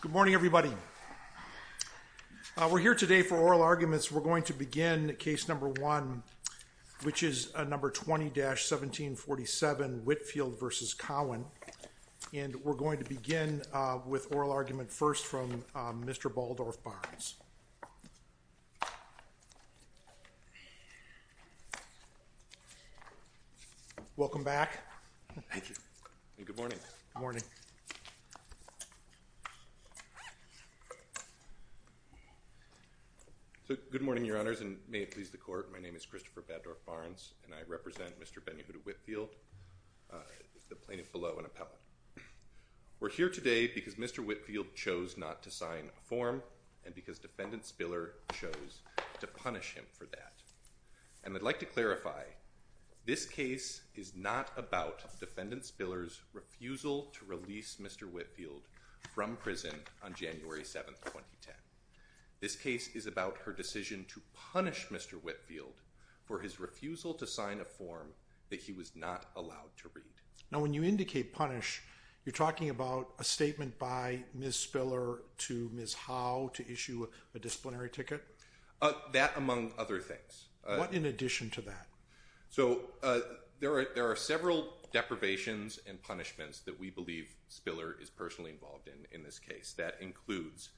Good morning, everybody. We're here today for oral arguments. We're going to begin case number one, which is number 20-1747, Whitfield v. Cowan, and we're going to begin with oral argument first from Mr. Baldorf Barnes. Welcome back. Thank you. Good morning. Good morning. So, good morning, Your Honors, and may it please the Court. My name is Christopher Baddorf Barnes, and I represent Mr. BenYeHudah Whitfield, the plaintiff below in appellate. We're here today because Mr. Whitfield chose not to sign a form and because Defendant Spiller chose to punish him for that. And I'd like to clarify, this case is not about Defendant Spiller's refusal to release Mr. Whitfield from prison on January 7, 2010. This case is about her decision to punish Mr. Whitfield for his refusal to sign a form that he was not allowed to read. Now, when you indicate punish, you're talking about a statement by Ms. Spiller to Ms. Howe to issue a disciplinary ticket? That, among other things. What in addition to that? So, there are several deprivations and punishments that we believe Spiller is personally involved in in this case. That includes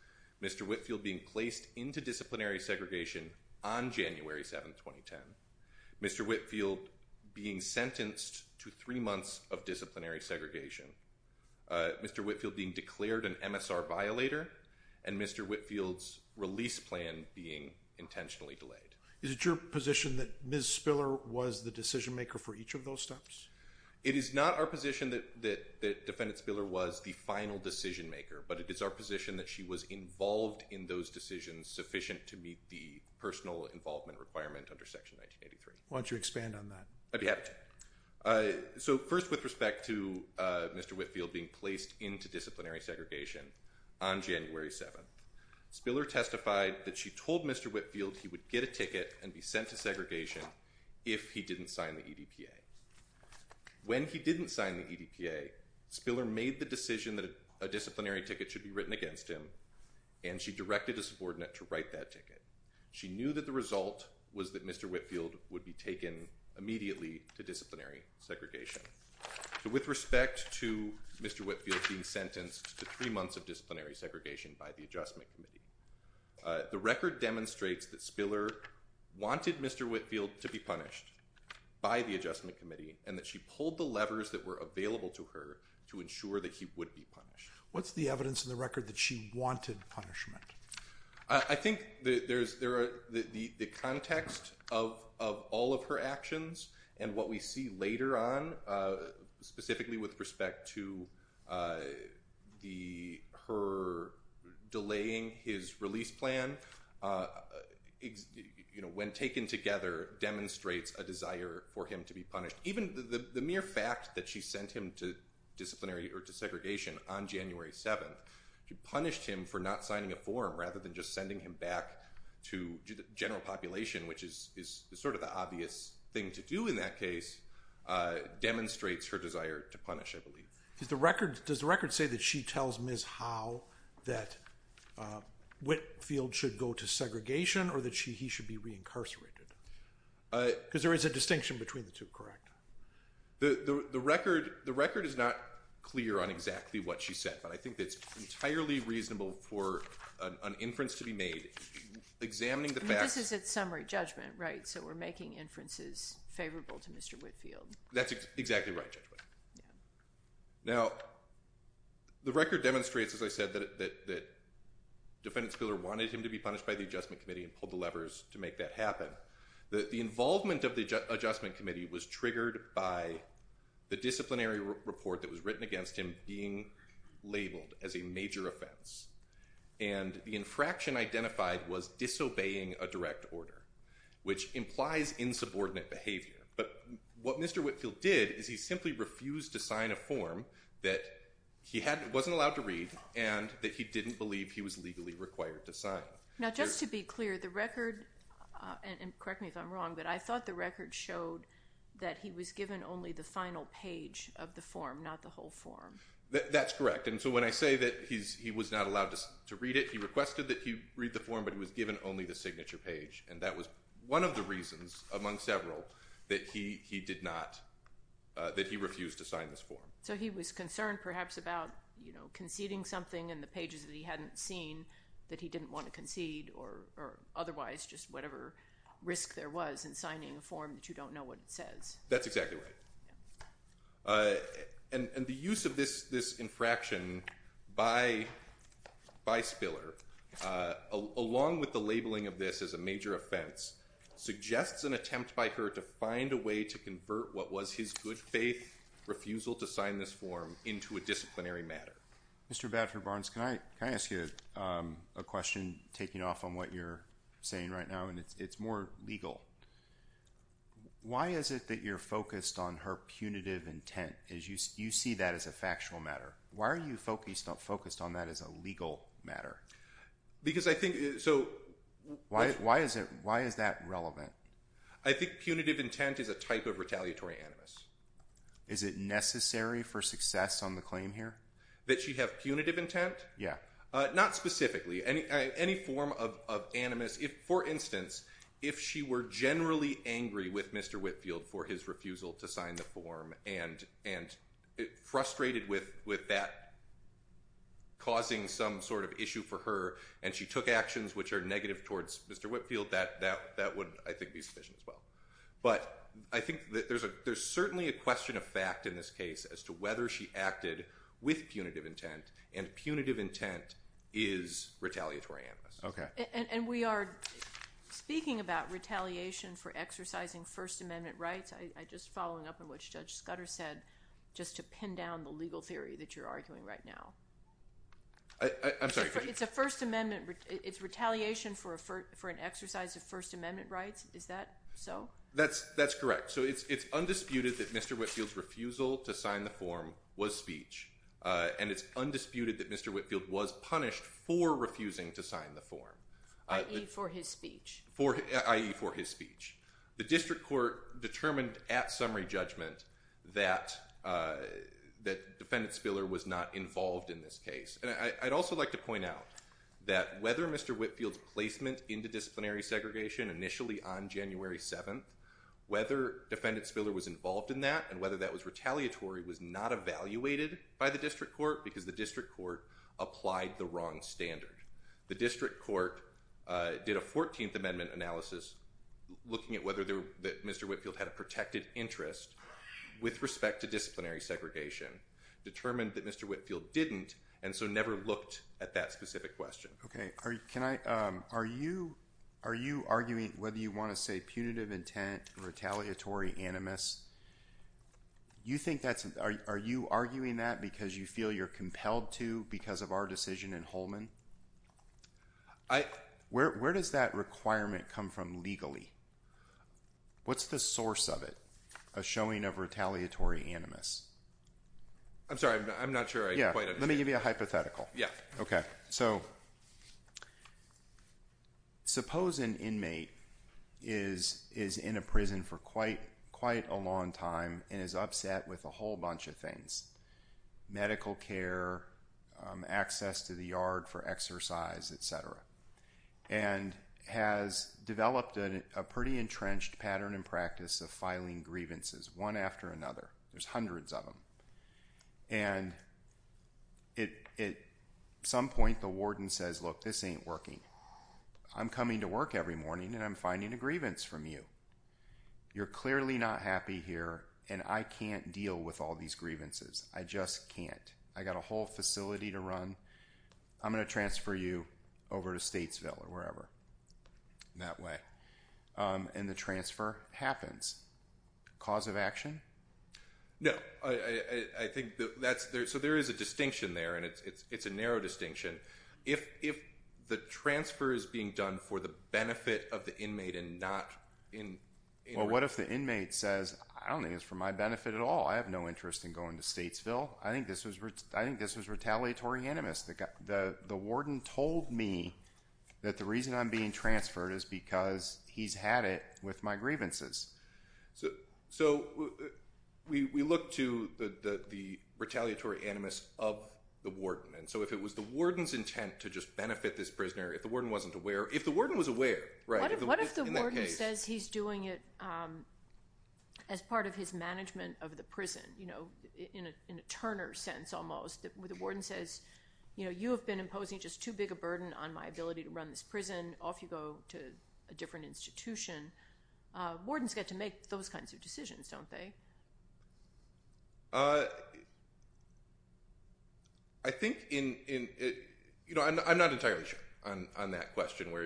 Mr. Whitfield being placed into disciplinary segregation on January 7, 2010, Mr. Whitfield being sentenced to three months of disciplinary segregation, Mr. Whitfield being declared an MSR violator, and Mr. Whitfield's release plan being intentionally delayed. Is it your position that Ms. Spiller was the decision maker for each of those steps? It is not our position that Defendant Spiller was the final decision maker, but it is our position that she was involved in those decisions sufficient to meet the personal involvement requirement under Section 1983. Why don't you expand on that? I'd be happy to. So, first with respect to Mr. Whitfield being placed into disciplinary segregation on January 7, Spiller testified that she told Mr. Whitfield he would get a ticket and be sent to segregation if he didn't sign the EDPA. When he didn't sign the EDPA, Spiller made the decision that a disciplinary ticket should be written against him, and she directed a subordinate to write that ticket. She knew that the result was that Mr. Whitfield would be taken immediately to disciplinary segregation. So, with respect to Mr. Whitfield being sentenced to three months of disciplinary segregation by the Adjustment Committee, the record demonstrates that Spiller wanted Mr. Whitfield to be punished by the Adjustment Committee and that she pulled the levers that were available to her to ensure that he would be punished. What's the evidence in the record that she wanted punishment? I think there's the context of all of her actions and what we see later on, specifically with respect to her delaying his release plan, you know, when taken together demonstrates a desire for him to be punished. Even the mere fact that she sent him to disciplinary or to segregation on January 7, she punished him for not signing a form rather than just sending him back to the general population, which is sort of the obvious thing to do in that case, demonstrates her desire to punish, I believe. Does the record say that she tells Ms. Howe that Whitfield should go to segregation or that he should be reincarcerated? Because there is a distinction between the two, correct? The record is not clear on exactly what she said, but I think that it's entirely reasonable for an inference to be made examining the fact— This is a summary judgment, right? So, making inferences favorable to Mr. Whitfield. That's exactly right, Judge Whitfield. Now, the record demonstrates, as I said, that Defendant Spiller wanted him to be punished by the Adjustment Committee and pulled the levers to make that happen. The involvement of the Adjustment Committee was triggered by the disciplinary report that was written against him being labeled as a major offense, and the infraction identified was disobeying a direct order, which implies insubordinate behavior. But what Mr. Whitfield did is he simply refused to sign a form that he wasn't allowed to read and that he didn't believe he was legally required to sign. Now, just to be clear, the record—and correct me if I'm wrong—but I thought the record showed that he was given only the final page of the form, not the whole form. That's correct, and so when I say that he was not allowed to read it, he requested that he read the form, but he was given only the signature page, and that was one of the reasons, among several, that he did not—that he refused to sign this form. So he was concerned perhaps about, you know, conceding something in the pages that he hadn't seen that he didn't want to concede or otherwise just whatever risk there was in signing a form that you don't know what it says. That's of this as a major offense, suggests an attempt by her to find a way to convert what was his good faith refusal to sign this form into a disciplinary matter. Mr. Badford-Barnes, can I ask you a question taking off on what you're saying right now, and it's more legal. Why is it that you're focused on her punitive intent, as you see that as a factual matter? Why are you focused on that as a legal matter? Why is that relevant? I think punitive intent is a type of retaliatory animus. Is it necessary for success on the claim here? That she have punitive intent? Yeah. Not specifically. Any form of animus—for instance, if she were generally angry with Mr. Whitfield for his refusal to sign the form and frustrated with that causing some sort of issue for her, and she took actions which are negative towards Mr. Whitfield, that would, I think, be sufficient as well. But I think there's certainly a question of fact in this case as to whether she acted with punitive intent, and punitive intent is retaliatory animus. Okay. And we are speaking about retaliation for exercising First Amendment rights. I'm just following up on what Judge Scudder said, just to pin down the legal theory that you're arguing right now. I'm sorry. It's a First Amendment—it's retaliation for an exercise of First Amendment rights. Is that so? That's correct. So it's undisputed that Mr. Whitfield's refusal to sign the form was speech, and it's undisputed that Mr. Whitfield was punished for refusing to sign the form. I.e., for his speech. I.e., for his speech. The district court determined at summary judgment that Defendant Spiller was not involved in this case. And I'd also like to point out that whether Mr. Whitfield's placement into disciplinary segregation initially on January 7th, whether Defendant Spiller was involved in that and whether that was retaliatory was not evaluated by the district court because the district court applied the wrong standard. The district court did a 14th Amendment analysis looking at whether Mr. Whitfield had a protected interest with respect to disciplinary segregation, determined that Mr. Whitfield didn't, and so never looked at that specific question. Okay. Are you arguing whether you want to say punitive intent, retaliatory animus? Are you arguing that because you feel you're compelled to because of our decision in Holman? Where does that requirement come from legally? What's the source of it, a showing of retaliatory animus? I'm sorry. I'm not sure I quite understand. Yeah. Let me give you a hypothetical. Yeah. Okay. So, suppose an inmate is in a prison for quite a long time and is upset with a whole access to the yard for exercise, et cetera, and has developed a pretty entrenched pattern and practice of filing grievances one after another. There's hundreds of them. And at some point, the warden says, look, this ain't working. I'm coming to work every morning and I'm finding a grievance from you. You're clearly not happy here and I can't deal with these grievances. I just can't. I got a whole facility to run. I'm going to transfer you over to Statesville or wherever. That way. And the transfer happens. Cause of action? No. So, there is a distinction there and it's a narrow distinction. If the transfer is being done for the benefit of the inmate and not in... Well, what if the inmate says, I don't think it's for my benefit at all. I have no interest in going to Statesville. I think this was retaliatory animus. The warden told me that the reason I'm being transferred is because he's had it with my grievances. So, we look to the retaliatory animus of the warden. And so, if it was the warden's intent to just benefit this prisoner, if the warden wasn't aware, if the warden was aware... What if the warden says he's doing it as part of his management of the prison, in a Turner sense almost, where the warden says, you have been imposing just too big a burden on my ability to run this prison. Off you go to a different institution. Wardens get to make those kinds of decisions, don't they? I'm not entirely sure on that question where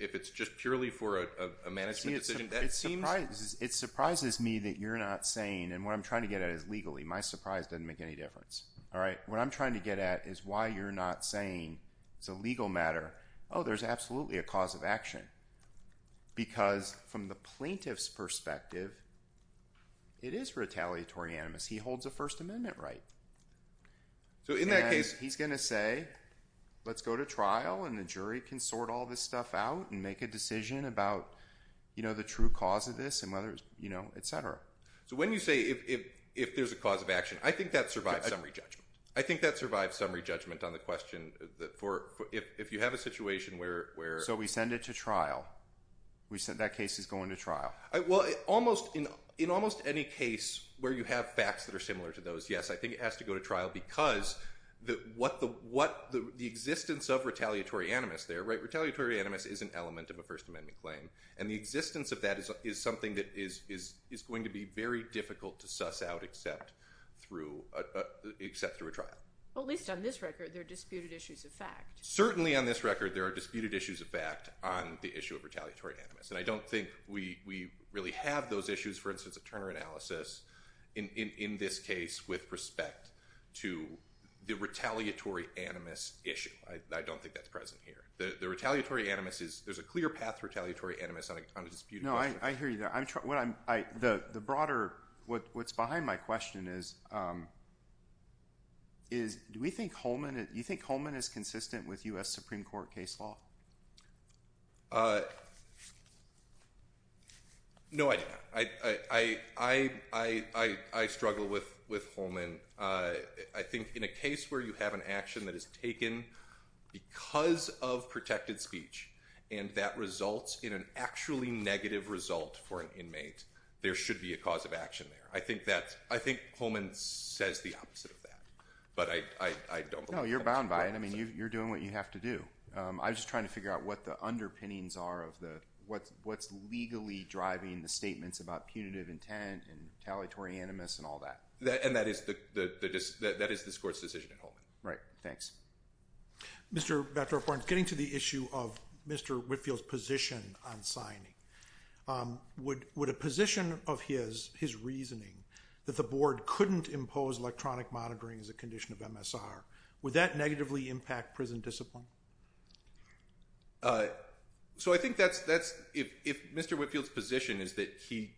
if it's just purely for a management decision, that seems... It surprises me that you're not saying, and what I'm trying to get at is legally. My surprise doesn't make any difference. All right? What I'm trying to get at is why you're not saying it's a legal matter. Oh, there's absolutely a cause of action. Because from the plaintiff's perspective, it is retaliatory animus. He holds a First Amendment right. So, in that case... And he's going to say, let's go to trial and the jury can sort all this stuff out and make a decision about the true cause of this, et cetera. So, when you say if there's a cause of action, I think that survives summary judgment. I think that survives summary judgment on the question that if you have a situation where... So, we send it to trial. That case is going to trial. Well, in almost any case where you have facts that are similar to those, yes, I think it has to go to trial because the existence of retaliatory animus there, right? Retaliatory animus is an element of a First Amendment claim. And the existence of that is something that is going to be very difficult to suss out except through a trial. Well, at least on this record, there are disputed issues of fact. Certainly on this record, there are disputed issues of fact on the issue of retaliatory animus. And I don't think we really have those issues, for instance, of Turner analysis in this case with respect to the retaliatory animus issue. I don't think that's present here. The retaliatory animus is... There's a clear path to retaliatory animus on a disputed question. No, I hear you there. The broader... What's behind my question is, do we think Holman... Do you think Holman is consistent with US Supreme Court case law? No, I do not. I struggle with Holman. I think in a case where you have an action that is taken because of protected speech, and that results in an actually negative result for an inmate, there should be a cause of action there. I think Holman says the opposite of that, but I don't believe that's the opposite. You're doing what you have to do. I was just trying to figure out what the underpinnings are of the... What's legally driving the statements about punitive intent and retaliatory animus and all that. And that is this court's decision in Holman. Right. Thanks. Mr. Batroff-Barnes, getting to the issue of Mr. Whitfield's position on signing, would a position of his, his reasoning that the board couldn't impose electronic monitoring as a condition of MSR, would that negatively impact prison discipline? So I think that's... If Mr. Whitfield's position is that he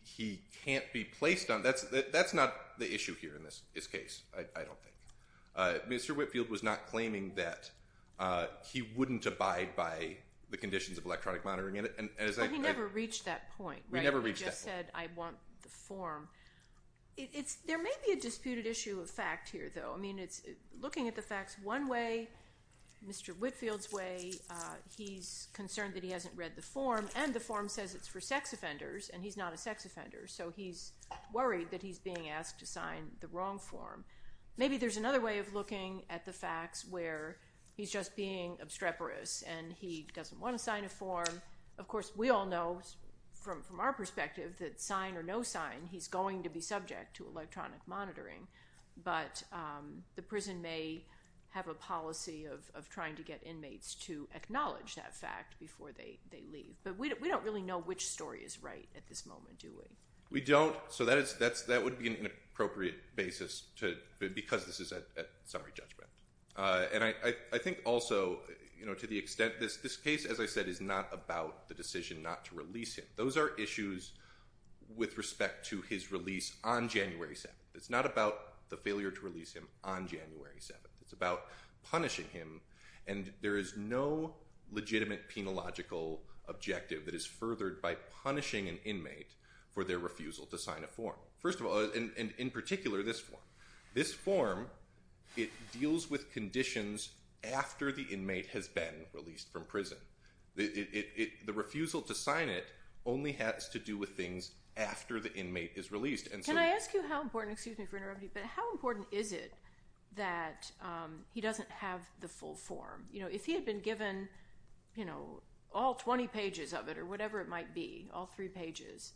can't be placed on... That's not the issue here in this case, I don't think. Mr. Whitfield was not claiming that he wouldn't abide by the conditions of electronic monitoring. And as I... But he never reached that point, right? We never reached that point. He just said, I want the form. There may be a disputed issue of fact here, though. Looking at the facts, one way, Mr. Whitfield's way, he's concerned that he hasn't read the form, and the form says it's for sex offenders, and he's not a sex offender. So he's worried that he's being asked to sign the wrong form. Maybe there's another way of looking at the facts where he's just being obstreperous and he doesn't want to sign a form. Of course, we all know from our perspective that sign or no sign, he's going to be subject to electronic monitoring. But the prison may have a policy of trying to get inmates to acknowledge that fact before they leave. But we don't really know which story is right at this moment, do we? We don't. So that would be an inappropriate basis because this is a summary judgment. And I think also, to the extent this case, as I said, is not about the decision not to release him. Those are the failure to release him on January 7th. It's about punishing him. And there is no legitimate penological objective that is furthered by punishing an inmate for their refusal to sign a form. First of all, and in particular, this form. This form, it deals with conditions after the inmate has been released from prison. The refusal to sign it only has to do with things after the inmate is released. And so- How important is it that he doesn't have the full form? If he had been given all 20 pages of it or whatever it might be, all three pages,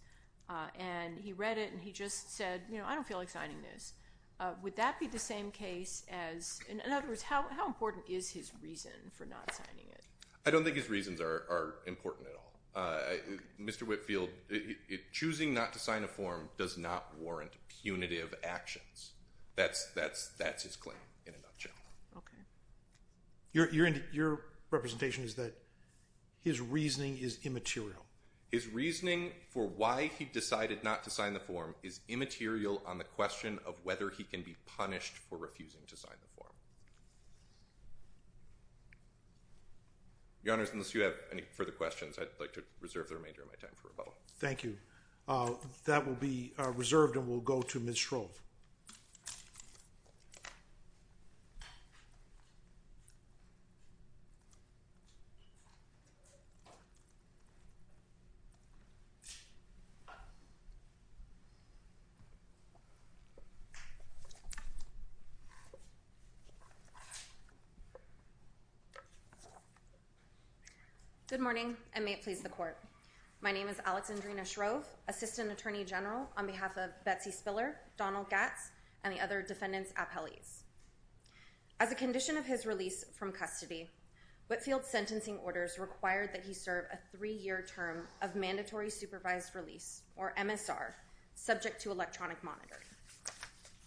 and he read it and he just said, I don't feel like signing this. Would that be the same case as- In other words, how important is his reason for not signing it? I don't think his reasons are important at all. Mr. Whitfield, choosing not to sign a form does not warrant punitive actions. That's his claim in a nutshell. Okay. Your representation is that his reasoning is immaterial. His reasoning for why he decided not to sign the form is immaterial on the question of whether he can be punished for the remainder of his sentence. Thank you. That will be reserved and we'll go to Ms. Shrove. Good morning, and may it please the court. My name is Alexandrina Shrove, Assistant Attorney General on behalf of Betsy Spiller, Donald Gatz, and the other defendants appellees. As a condition of his release from custody, Whitfield's sentencing orders required that he serve a three-year term of mandatory supervised release, or MSR, subject to electronic monitoring.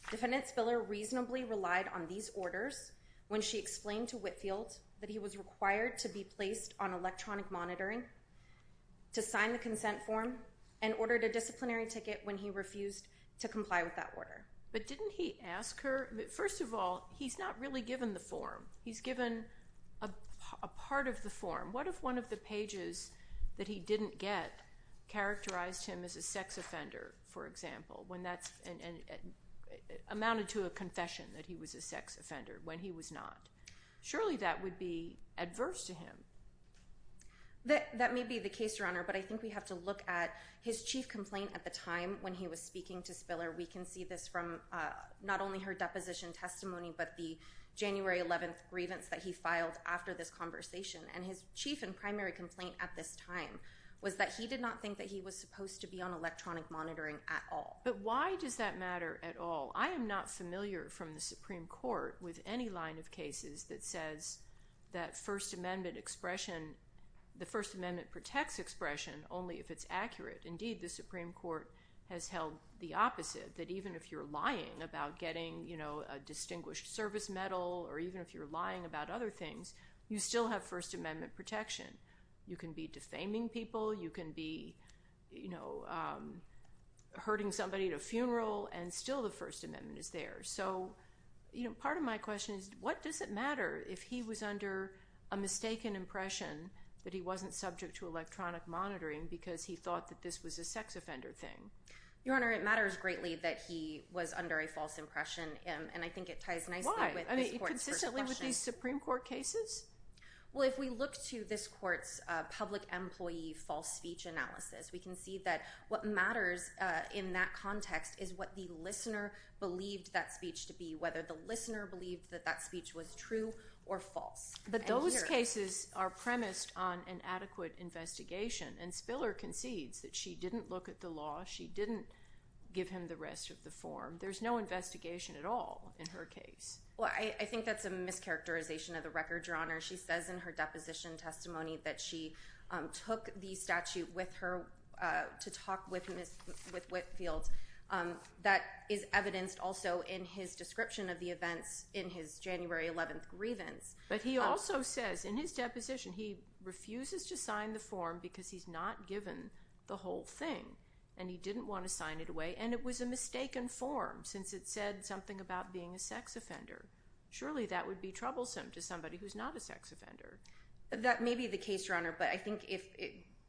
Defendant Spiller reasonably relied on these orders when she explained to Whitfield that he was required to be placed on electronic monitoring to sign the consent form and ordered a disciplinary ticket when he refused to comply with that order. But didn't he ask her- First of all, he's not really given the form. He's given a part of the form. What if one of the pages that he didn't get characterized him as a sex offender, for example, when that's amounted to a confession that he was a sex offender when he was not? Surely that would be adverse to him. That may be the case, Your Honor, but I think we have to look at his chief complaint at the time when he was speaking to Spiller. We can see this from not only her deposition testimony but the January 11th grievance that he filed after this conversation. And his chief and primary complaint at this time was that he did not think that he was supposed to be on electronic monitoring at all. But why does that matter at all? I am not familiar from the Supreme Court with any line of cases that says that First Amendment expression, the First Amendment protects expression only if it's accurate. Indeed, the Supreme Court has held the opposite, that even if you're lying about getting a distinguished service medal or even if you're lying about other things, you still have First Amendment protection. You can be defaming people. You can be hurting somebody at a funeral, and still the First Amendment is there. So part of my question is what does it matter if he was under a mistaken impression that he wasn't subject to electronic monitoring because he thought that this was a sex offender thing? Your Honor, it matters greatly that he was under a false impression, and I think it ties nicely with this court's perspective. Why? I mean, consistently with these Supreme Court cases? Well, if we look to this court's public employee false speech analysis, we can see that what matters in that context is what the listener believed that speech to be, whether the listener believed that that speech was true or false. But those cases are premised on an adequate investigation, and Spiller concedes that she didn't look at the law. She didn't give him the rest of the form. There's no investigation at all in her case. Well, I think that's a mischaracterization of the record, Your Honor. She says in her deposition testimony that she took the statute with her to talk with Whitfield. That is evidenced also in his description of the events in his January 11th grievance. But he also says in his deposition he refuses to sign the form because he's not given the whole thing, and he didn't want to sign it away, and it was a mistaken form since it said something about being a sex offender. Surely that would be troublesome to somebody who's not a sex offender. That may be the case, Your Honor, but I think if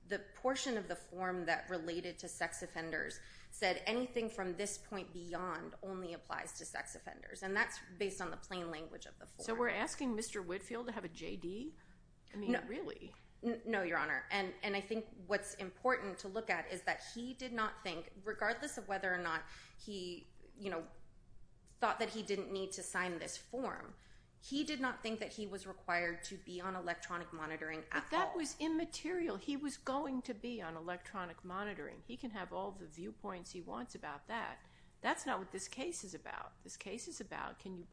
the portion of the form that related to sex offenders said anything from this point beyond only applies to sex offenders, and that's based on the plain language of the form. So we're asking Mr. Whitfield to have a JD? I mean, really? No, Your Honor, and I think what's important to look at is that he did not think, regardless of whether or not he, you know, thought that he didn't need to sign this form, he did not think that he was required to be on electronic monitoring at all. But that was immaterial. He was going to be on electronic monitoring. He can have all the viewpoints he wants about that. That's not what this case is about. This case is about can you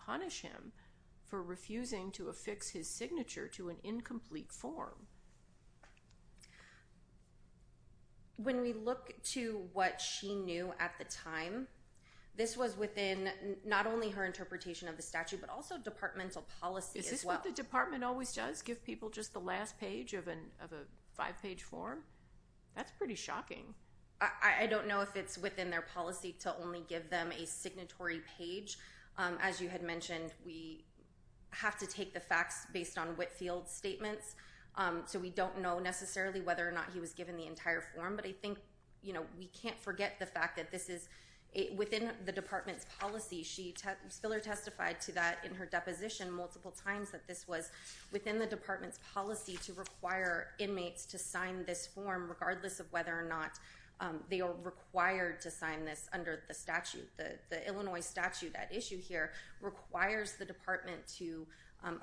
affix his signature to an incomplete form? When we look to what she knew at the time, this was within not only her interpretation of the statute, but also departmental policy as well. Is this what the department always does? Give people just the last page of a five-page form? That's pretty shocking. I don't know if it's within their policy to only give them a signatory page. As you had mentioned, we have to take the facts based on Whitfield's statements, so we don't know necessarily whether or not he was given the entire form. But I think, you know, we can't forget the fact that this is within the department's policy. Spiller testified to that in her deposition multiple times that this was within the department's policy to require inmates to sign this form regardless of whether or not they are required to sign this under the Illinois statute. That issue here requires the department to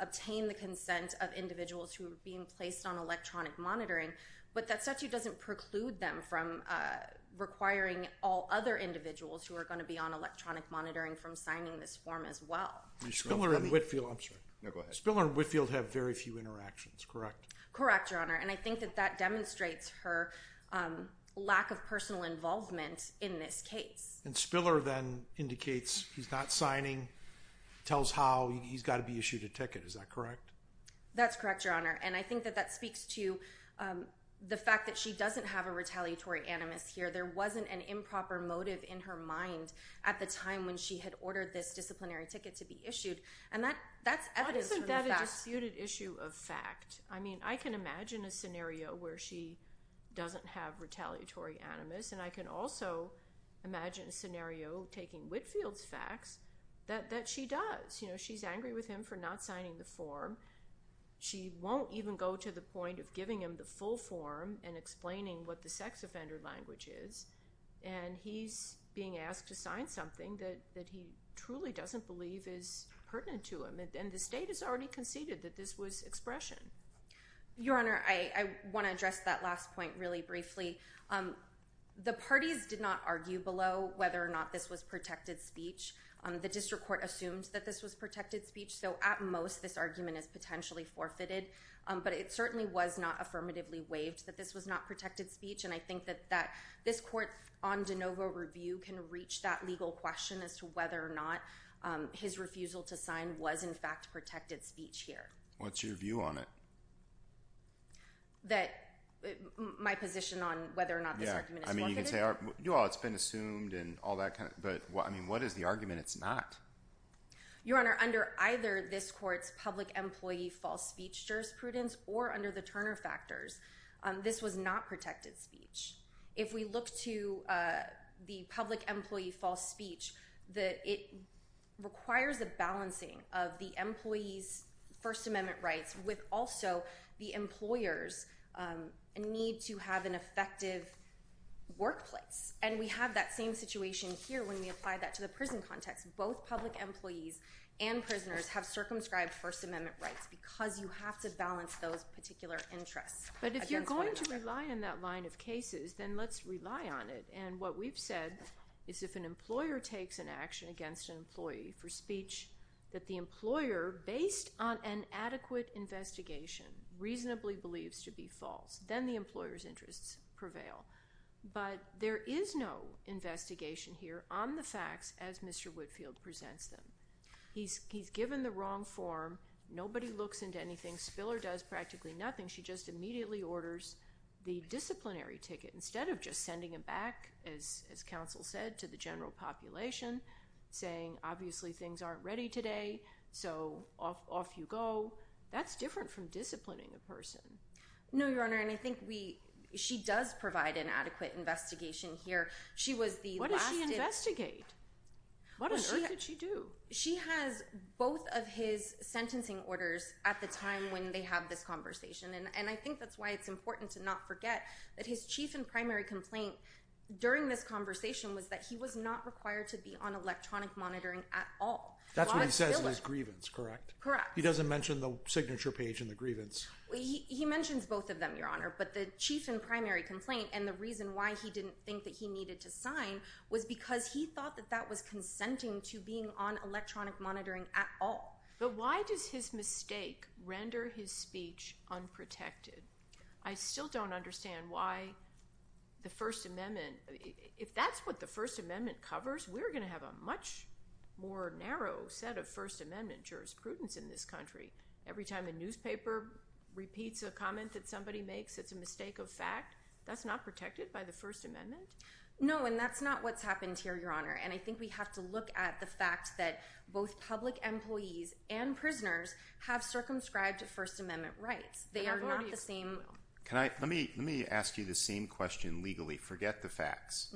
obtain the consent of individuals who are being placed on electronic monitoring, but that statute doesn't preclude them from requiring all other individuals who are going to be on electronic monitoring from signing this form as well. Spiller and Whitfield have very few interactions, correct? Correct, Your Honor, and I think that that demonstrates her lack of personal involvement in this case. And Spiller then indicates he's not signing, tells how he's got to be issued a ticket, is that correct? That's correct, Your Honor, and I think that that speaks to the fact that she doesn't have a retaliatory animus here. There wasn't an improper motive in her mind at the time when she had ordered this disciplinary ticket to be issued, and that's evidence from the facts. Isn't that a disputed issue of fact? I mean, I can imagine a scenario where she doesn't have retaliatory animus, and I can also imagine a scenario taking Whitfield's facts that she does. You know, she's angry with him for not signing the form. She won't even go to the point of giving him the full form and explaining what the sex offender language is, and he's being asked to sign something that he truly doesn't believe is pertinent to him, and the state has already that this was expression. Your Honor, I want to address that last point really briefly. The parties did not argue below whether or not this was protected speech. The district court assumed that this was protected speech, so at most this argument is potentially forfeited, but it certainly was not affirmatively waived that this was not protected speech, and I think that this court on de novo review can reach that legal question as to whether or not his refusal to sign was in fact protected speech here. What's your view on it? My position on whether or not this argument is forfeited? I mean, you can say, you know, it's been assumed and all that kind of, but I mean, what is the argument it's not? Your Honor, under either this court's public employee false speech jurisprudence or under the Turner factors, this was not protected speech. If we look to the public employee false speech, it requires a balancing of the employee's First Amendment rights with also the employer's need to have an effective workplace, and we have that same situation here when we apply that to the prison context. Both public employees and prisoners have circumscribed First Amendment rights because you have to balance those particular interests. But if you're going to rely on that line of cases, then let's rely on it, and what we've said is if an employer takes an action against an employee for speech that the employer, based on an adequate investigation, reasonably believes to be false, then the employer's interests prevail. But there is no investigation here on the facts as Mr. Whitfield presents them. He's given the wrong form. Nobody looks into anything. Spiller does back, as counsel said, to the general population, saying obviously things aren't ready today, so off you go. That's different from disciplining a person. No, Your Honor, and I think she does provide an adequate investigation here. What does she investigate? What on earth did she do? She has both of his sentencing orders at the time when they have this conversation, and I think that's why it's important to not forget that his chief and primary complaint during this conversation was that he was not required to be on electronic monitoring at all. That's what he says in his grievance, correct? Correct. He doesn't mention the signature page in the grievance. He mentions both of them, Your Honor, but the chief and primary complaint and the reason why he didn't think that he needed to sign was because he thought that that was consenting to being on electronic monitoring. I still don't understand why the First Amendment, if that's what the First Amendment covers, we're going to have a much more narrow set of First Amendment jurisprudence in this country. Every time a newspaper repeats a comment that somebody makes that's a mistake of fact, that's not protected by the First Amendment? No, and that's not what's happened here, Your Honor, and I think we have to look at the fact that both public employees and prisoners have circumscribed First Amendment rights. They are not the same. Let me ask you the same question legally. Forget the facts.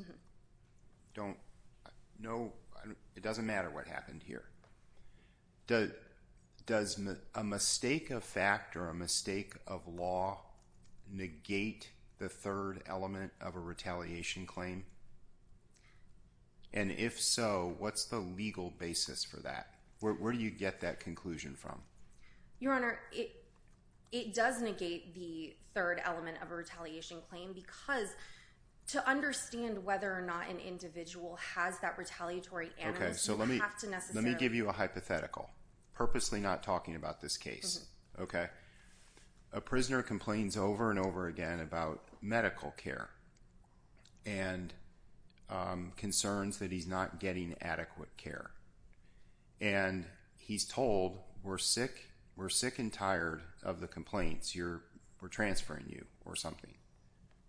It doesn't matter what happened here. Does a mistake of fact or a mistake of law negate the third element of a retaliation claim? And if so, what's the legal basis for that? Where do you get that conclusion from? It does negate the third element of a retaliation claim because to understand whether or not an individual has that retaliatory animus, you don't have to necessarily... Let me give you a hypothetical, purposely not talking about this case. A prisoner complains over and over again about medical care and concerns that he's not getting adequate care. And he's told, we're sick and tired of the complaints. We're transferring you or something,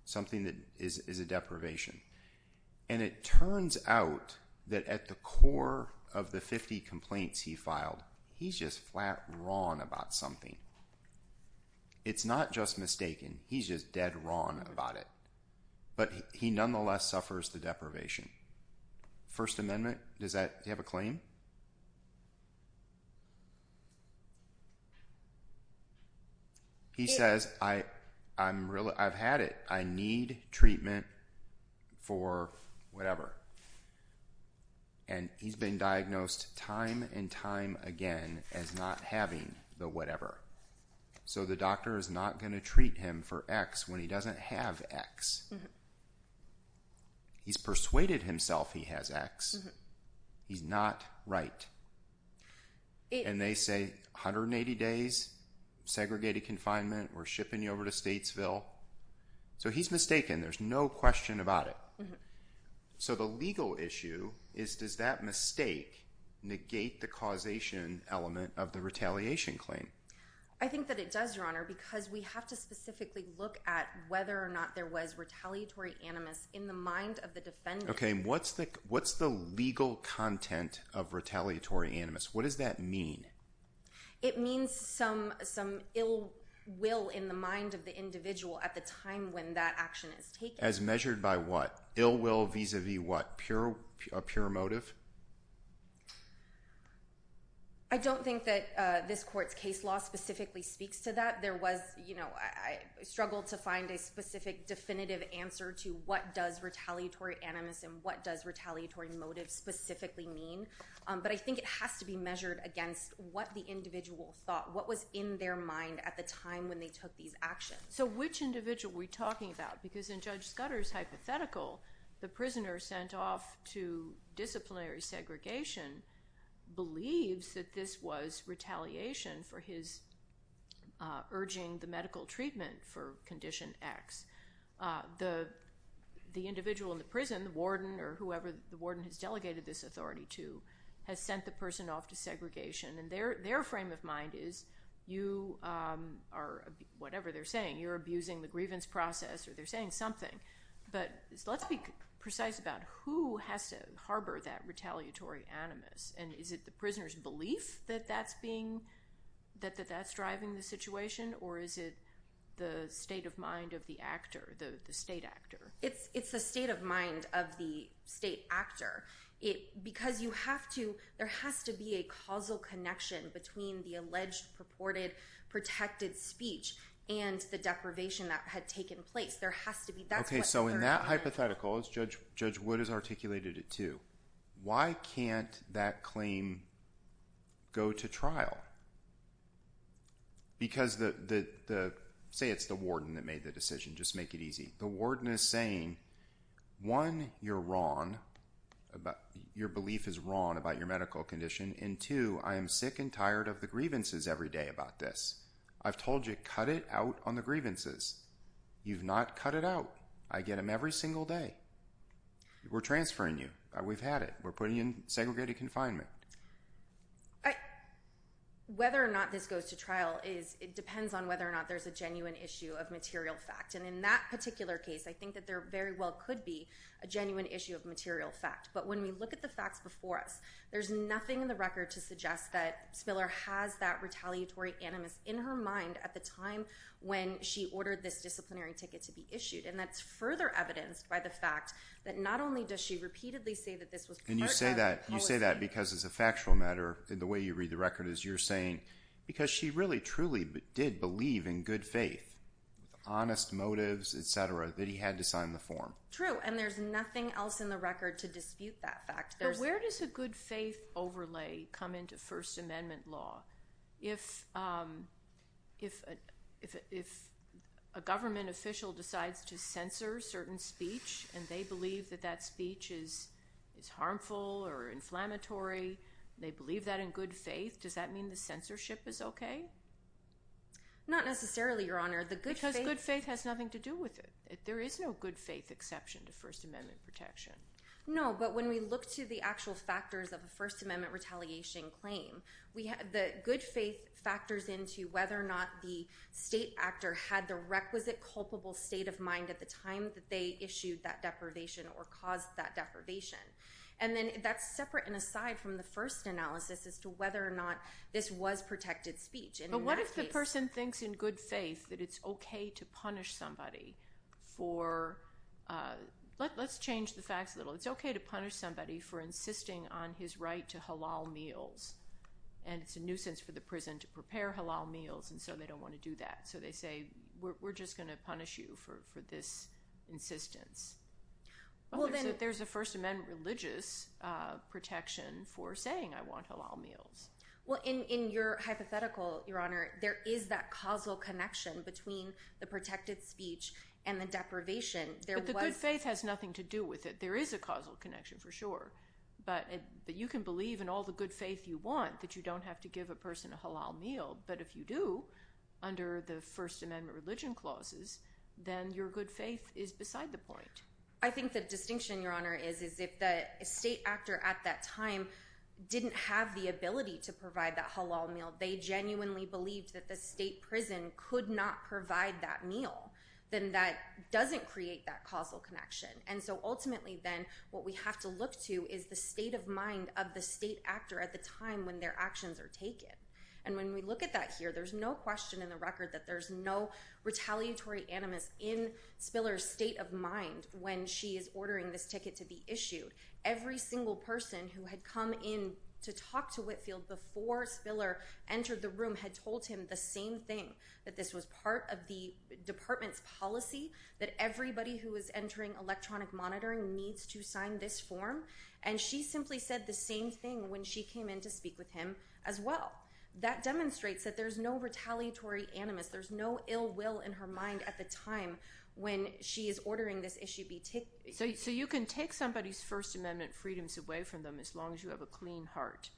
something that is a deprivation. And it turns out that at the core of the 50 complaints he filed, he's just flat wrong about something. It's not just mistaken. He's just dead wrong about it. But he nonetheless suffers the deprivation. First Amendment, does that have a claim? He says, I've had it. I need treatment for whatever. And he's been diagnosed time and time again as not having the whatever. So the doctor is not going to treat him for X when he doesn't have X. He's persuaded himself he has X. He's not right. And they say 180 days, segregated confinement, we're shipping you over to Statesville. So he's mistaken. There's no question about it. So the legal issue is, does that mistake negate the causation element of the retaliation claim? I think that it does, Your Honor, because we have to specifically look at whether or not there was retaliatory animus in the mind of the defendant. Okay, what's the legal content of retaliatory animus? What does that mean? It means some ill will in the mind of the individual at the time when that action is taken. As measured by what? Ill will vis-a-vis what? A pure motive? I don't think that this court's case law specifically speaks to that. There was, you know, I struggled to find a specific definitive answer to what does retaliatory animus and what does retaliatory motive specifically mean. But I think it has to be measured against what the individual thought, what was in their mind at the time when they took these actions. So which individual are we talking about? Because in Judge Scudder's hypothetical, the prisoner sent off to disciplinary segregation believes that this was retaliation for his urging the medical treatment for condition X. The individual in the prison, the warden or whoever the warden has delegated this authority to, has sent the person off to segregation. And their frame of mind is, you are, whatever they're saying, you're abusing the grievance process or they're saying something. But let's be precise about who has to harbor that retaliatory animus. And is it the prisoner's belief that that's being, that that's driving the situation? Or is it the state of mind of the actor, the state actor? It's the state of mind of the state actor. It, because you have to, there has to be a causal connection between the alleged purported protected speech and the deprivation that had taken place. There has to be that. Okay. So in that hypothetical is Judge, Judge Wood has articulated it too. Why can't that claim go to trial? Because the, the, the say it's the warden that made the decision. Just make it easy. The warden is saying, one, you're wrong about your belief is wrong about your medical condition. And two, I am sick and tired of the grievances every day about this. I've told you, cut it out on the grievances. You've not cut it out. I get them every single day. We're transferring you. We've had it. We're putting in segregated confinement. Whether or not this goes to trial is, it depends on whether or not there's a genuine issue of material fact. And in that particular case, I think that there very well could be a genuine issue of material fact. But when we look at the Spiller has that retaliatory animus in her mind at the time when she ordered this disciplinary ticket to be issued. And that's further evidenced by the fact that not only does she repeatedly say that this was part of the policy. And you say that, you say that because it's a factual matter. The way you read the record is you're saying, because she really truly did believe in good faith, honest motives, et cetera, that he had to sign the form. True. And there's nothing else in the record to dispute that fact. Where does a good faith overlay come into First Amendment law? If a government official decides to censor certain speech and they believe that that speech is harmful or inflammatory, they believe that in good faith, does that mean the censorship is okay? Not necessarily, Your Honor. Because good faith has nothing to do with it. There is no good faith exception to First Amendment protection. No. But when we look to the actual factors of a First Amendment retaliation claim, the good faith factors into whether or not the state actor had the requisite culpable state of mind at the time that they issued that deprivation or caused that deprivation. And then that's separate and aside from the first analysis as to whether or not this was protected speech. But what if the person thinks in good faith that it's okay to punish somebody for... Let's change the facts a little. It's okay to punish somebody for insisting on his right to halal meals. And it's a nuisance for the prison to prepare halal meals, and so they don't want to do that. So they say, we're just going to punish you for this insistence. But there's a First Amendment religious protection for saying, I want halal meals. Well, in your hypothetical, Your Honor, there is that causal connection between the protected speech and the deprivation. But the good faith has nothing to do with it. There is a causal connection for sure. But you can believe in all the good faith you want that you don't have to give a person a halal meal. But if you do, under the First Amendment religion clauses, then your good faith is beside the point. I think the distinction, Your Honor, is if the state actor at that time didn't have the ability to provide that halal meal, they genuinely believed that the state prison could not provide that meal, then that doesn't create that causal connection. And so ultimately then, what we have to look to is the state of mind of the state actor at the time when their actions are taken. And when we look at that here, there's no question in the record that there's no retaliatory animus in Spiller's state of mind when she is ordering this ticket to be issued. Every single person who had come in to talk to Whitfield before Spiller entered the room had told him the same thing, that this was part of the department's policy, that everybody who was entering electronic monitoring needs to sign this form. And she simply said the same thing when she came in to speak with him as well. That demonstrates that there's no retaliatory animus. There's no ill will in her mind at the time when she is ordering this issue be taken. So you can take somebody's First Amendment freedoms away from them as long as you have a clean heart.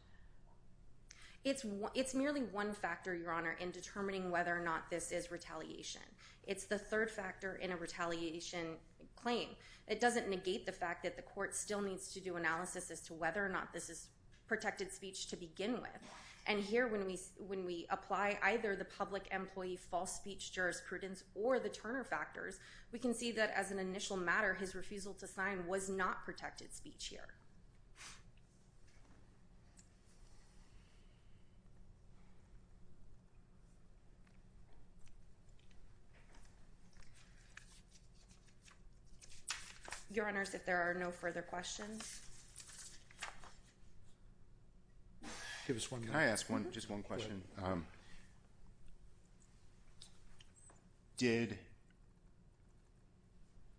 It's merely one factor, Your Honor, in determining whether or not this is retaliation. It's the third factor in a retaliation claim. It doesn't negate the fact that the court still needs to do analysis as to whether or not this is protected speech to begin with. And here, when we apply either the public employee false speech jurisprudence or the Turner factors, we can see that as an initial matter, his refusal to sign was not protected speech here. Your Honors, if there are no further questions. Give us one minute. Can I ask just one question? Did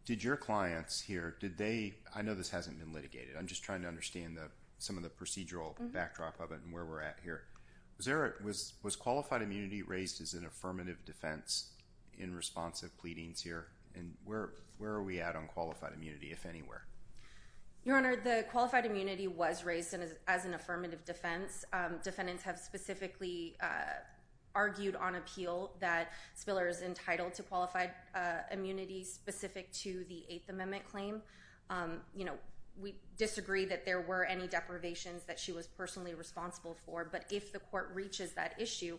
your clients here, did they, I know this hasn't been litigated. I'm just trying to understand some of the procedural backdrop of it and where we're at here. Was qualified immunity raised as an affirmative defense in response of pleadings here? And where are we at on qualified immunity, if anywhere? Your Honor, the qualified immunity was raised as an affirmative defense. Defendants have specifically argued on appeal that Spiller is entitled to qualified immunity specific to the Eighth Amendment claim. We disagree that there were any deprivations that she was personally responsible for. But if the court reaches that issue,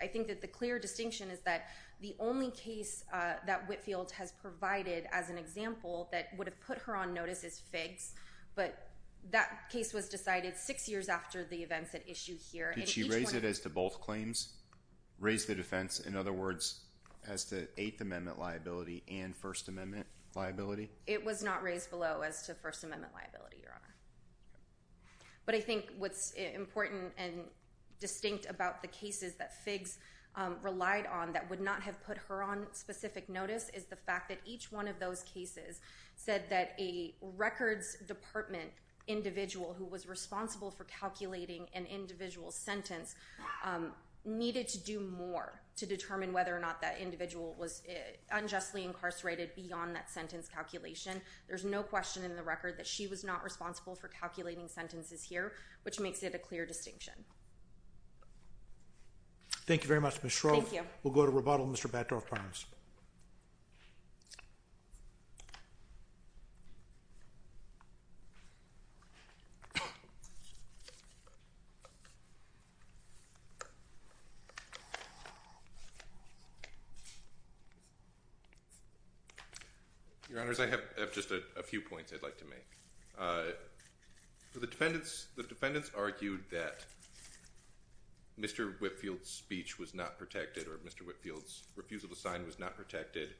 I think that the clear distinction is that the only case that Whitfield has provided as an example that would have put her on notice is Figs, but that case was decided six years after the events at issue here. Did she raise it as to both claims? Raised the defense, in other words, as to Eighth Amendment liability and First Amendment liability? It was not raised below as to First Amendment liability, Your Honor. But I think what's important and distinct about the cases that Figs relied on that would not have put her on specific notice is the fact that each one of those cases said that a records department individual who was responsible for calculating an individual's sentence needed to do more to determine whether or not that individual was unjustly incarcerated beyond that sentence calculation. There's no question in the record that she was not responsible for calculating sentences here, which makes it a clear distinction. Thank you very much, Ms. Shroff. Thank you. We'll go to rebuttal, Mr. Baddorf-Parnes. Your Honors, I have just a few points I'd like to make. For the defendants, the defendants argued that Mr. Whitfield's speech was not protected or Mr. Whitfield's refusal to sign was not protected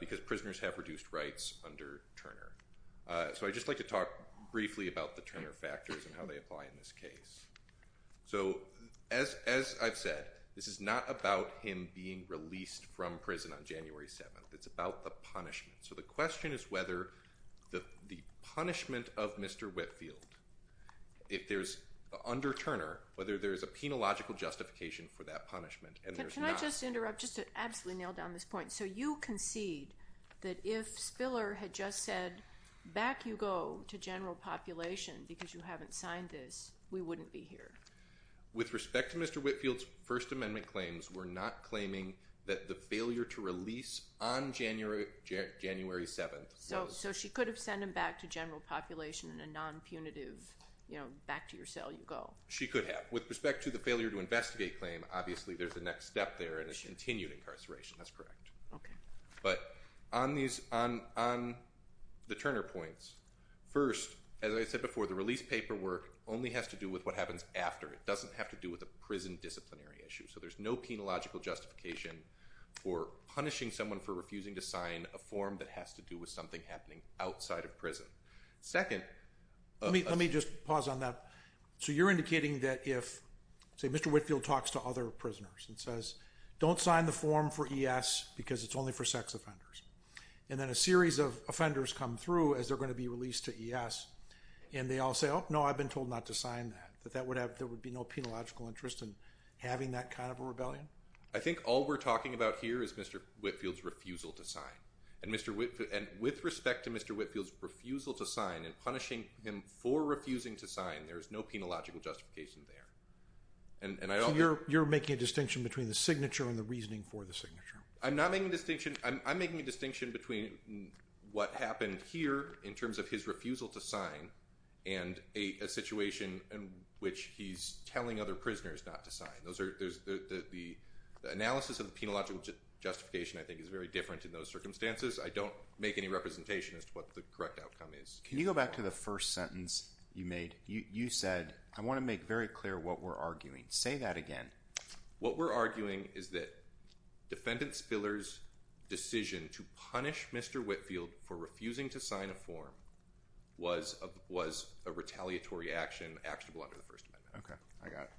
because prisoners have reduced rights under Turner. So I'd just like to talk briefly about the Turner factors and how they apply in this case. So as I've said, this is not about him being released from prison on January 7th. It's about the punishment. So the question is whether the punishment of Mr. Whitfield, if there's under Turner, whether there's a penological justification for that punishment. Can I just interrupt just to absolutely nail down this point? So you concede that if Spiller had just said, back you go to general population because you haven't signed this, we wouldn't be here. With respect to Mr. Whitfield's First Amendment claims, we're not claiming that the failure to release on January 7th. So she could have sent him back to general population in a non-punitive, back to your cell you go. She could have. With respect to the failure to investigate claim, obviously there's a next step there and it's continued incarceration. That's correct. But on the Turner points, first, as I said before, the release paperwork only has to do with what happens after. It doesn't have to do with a prison disciplinary issue. So there's no penological justification for punishing someone for refusing to sign a form that has to do with something happening outside of prison. Second. Let me just pause on that. So you're indicating that if, say Mr. Whitfield talks to other prisoners and says, don't sign the form for ES because it's only for sex offenders. And then a series of offenders come through as they're going to be released to ES and they all say, oh no, I've been told not to sign that. That there would be no penological interest in having that kind of a rebellion? I think all we're talking about here is Mr. Whitfield's refusal to sign. And with respect to Mr. Whitfield's refusal to sign and punishing him for refusing to sign, there is no penological justification there. So you're making a distinction between the signature and the reasoning for the signature. I'm not making a distinction. I'm making a distinction between what happened here in terms of his refusal to sign and a situation in which he's telling other prisoners not to sign. The analysis of the penological justification, I think, is very different in those circumstances. I don't make any representation as to what the correct outcome is. Can you go back to the first sentence you made? You said, I want to make very clear what we're arguing. Say that again. What we're arguing is that Defendant Spiller's decision to punish Mr. Whitfield for refusing to sign a form was a retaliatory action actionable under the First Amendment. Okay. I got it.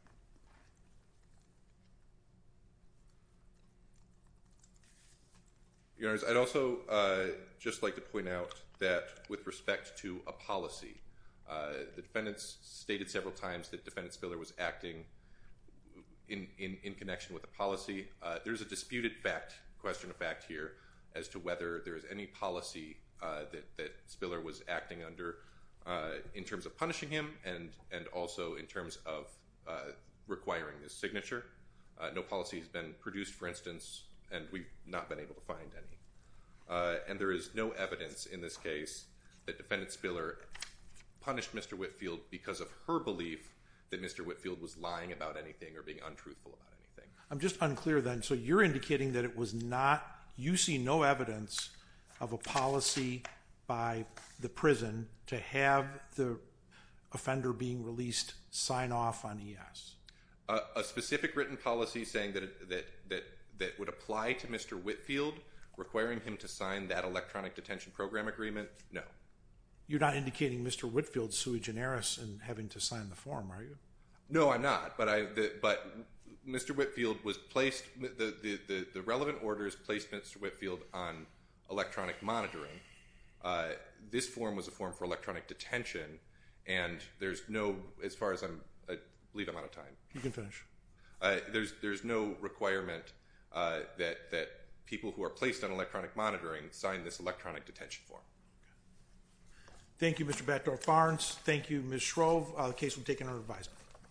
Your Honor, I'd also just like to point out that with respect to a policy, the defendants stated several times that Defendant Spiller was acting in connection with a policy. There's a disputed question of fact here as to whether there is any policy that Spiller was acting under in terms of punishing him and also in terms of requiring his signature. No policy has been produced, for instance, and we've not been able to find any. There is no evidence in this case that Defendant Spiller punished Mr. Whitfield because of her belief that Mr. Whitfield was lying about anything or being untruthful about anything. I'm just unclear then. So you're indicating that it was not, you see no evidence of a policy by the prison to have the offender being released sign off on ES? A specific written policy saying that would apply to Mr. Whitfield, requiring him to sign that electronic detention program agreement? No. You're not indicating Mr. Whitfield's sui generis in having to sign the form, are you? No, I'm not. But Mr. Whitfield was placed, the relevant orders placed Mr. Whitfield on electronic monitoring. This form was a form for electronic detention and there's no, as far as I'm, I believe I'm out of time. You can finish. There's no requirement that people who are placed on electronic monitoring sign this electronic detention form. Thank you, Mr. Batdorf-Barnes. Thank you, Ms. Shrove. The case will be taken under advisement.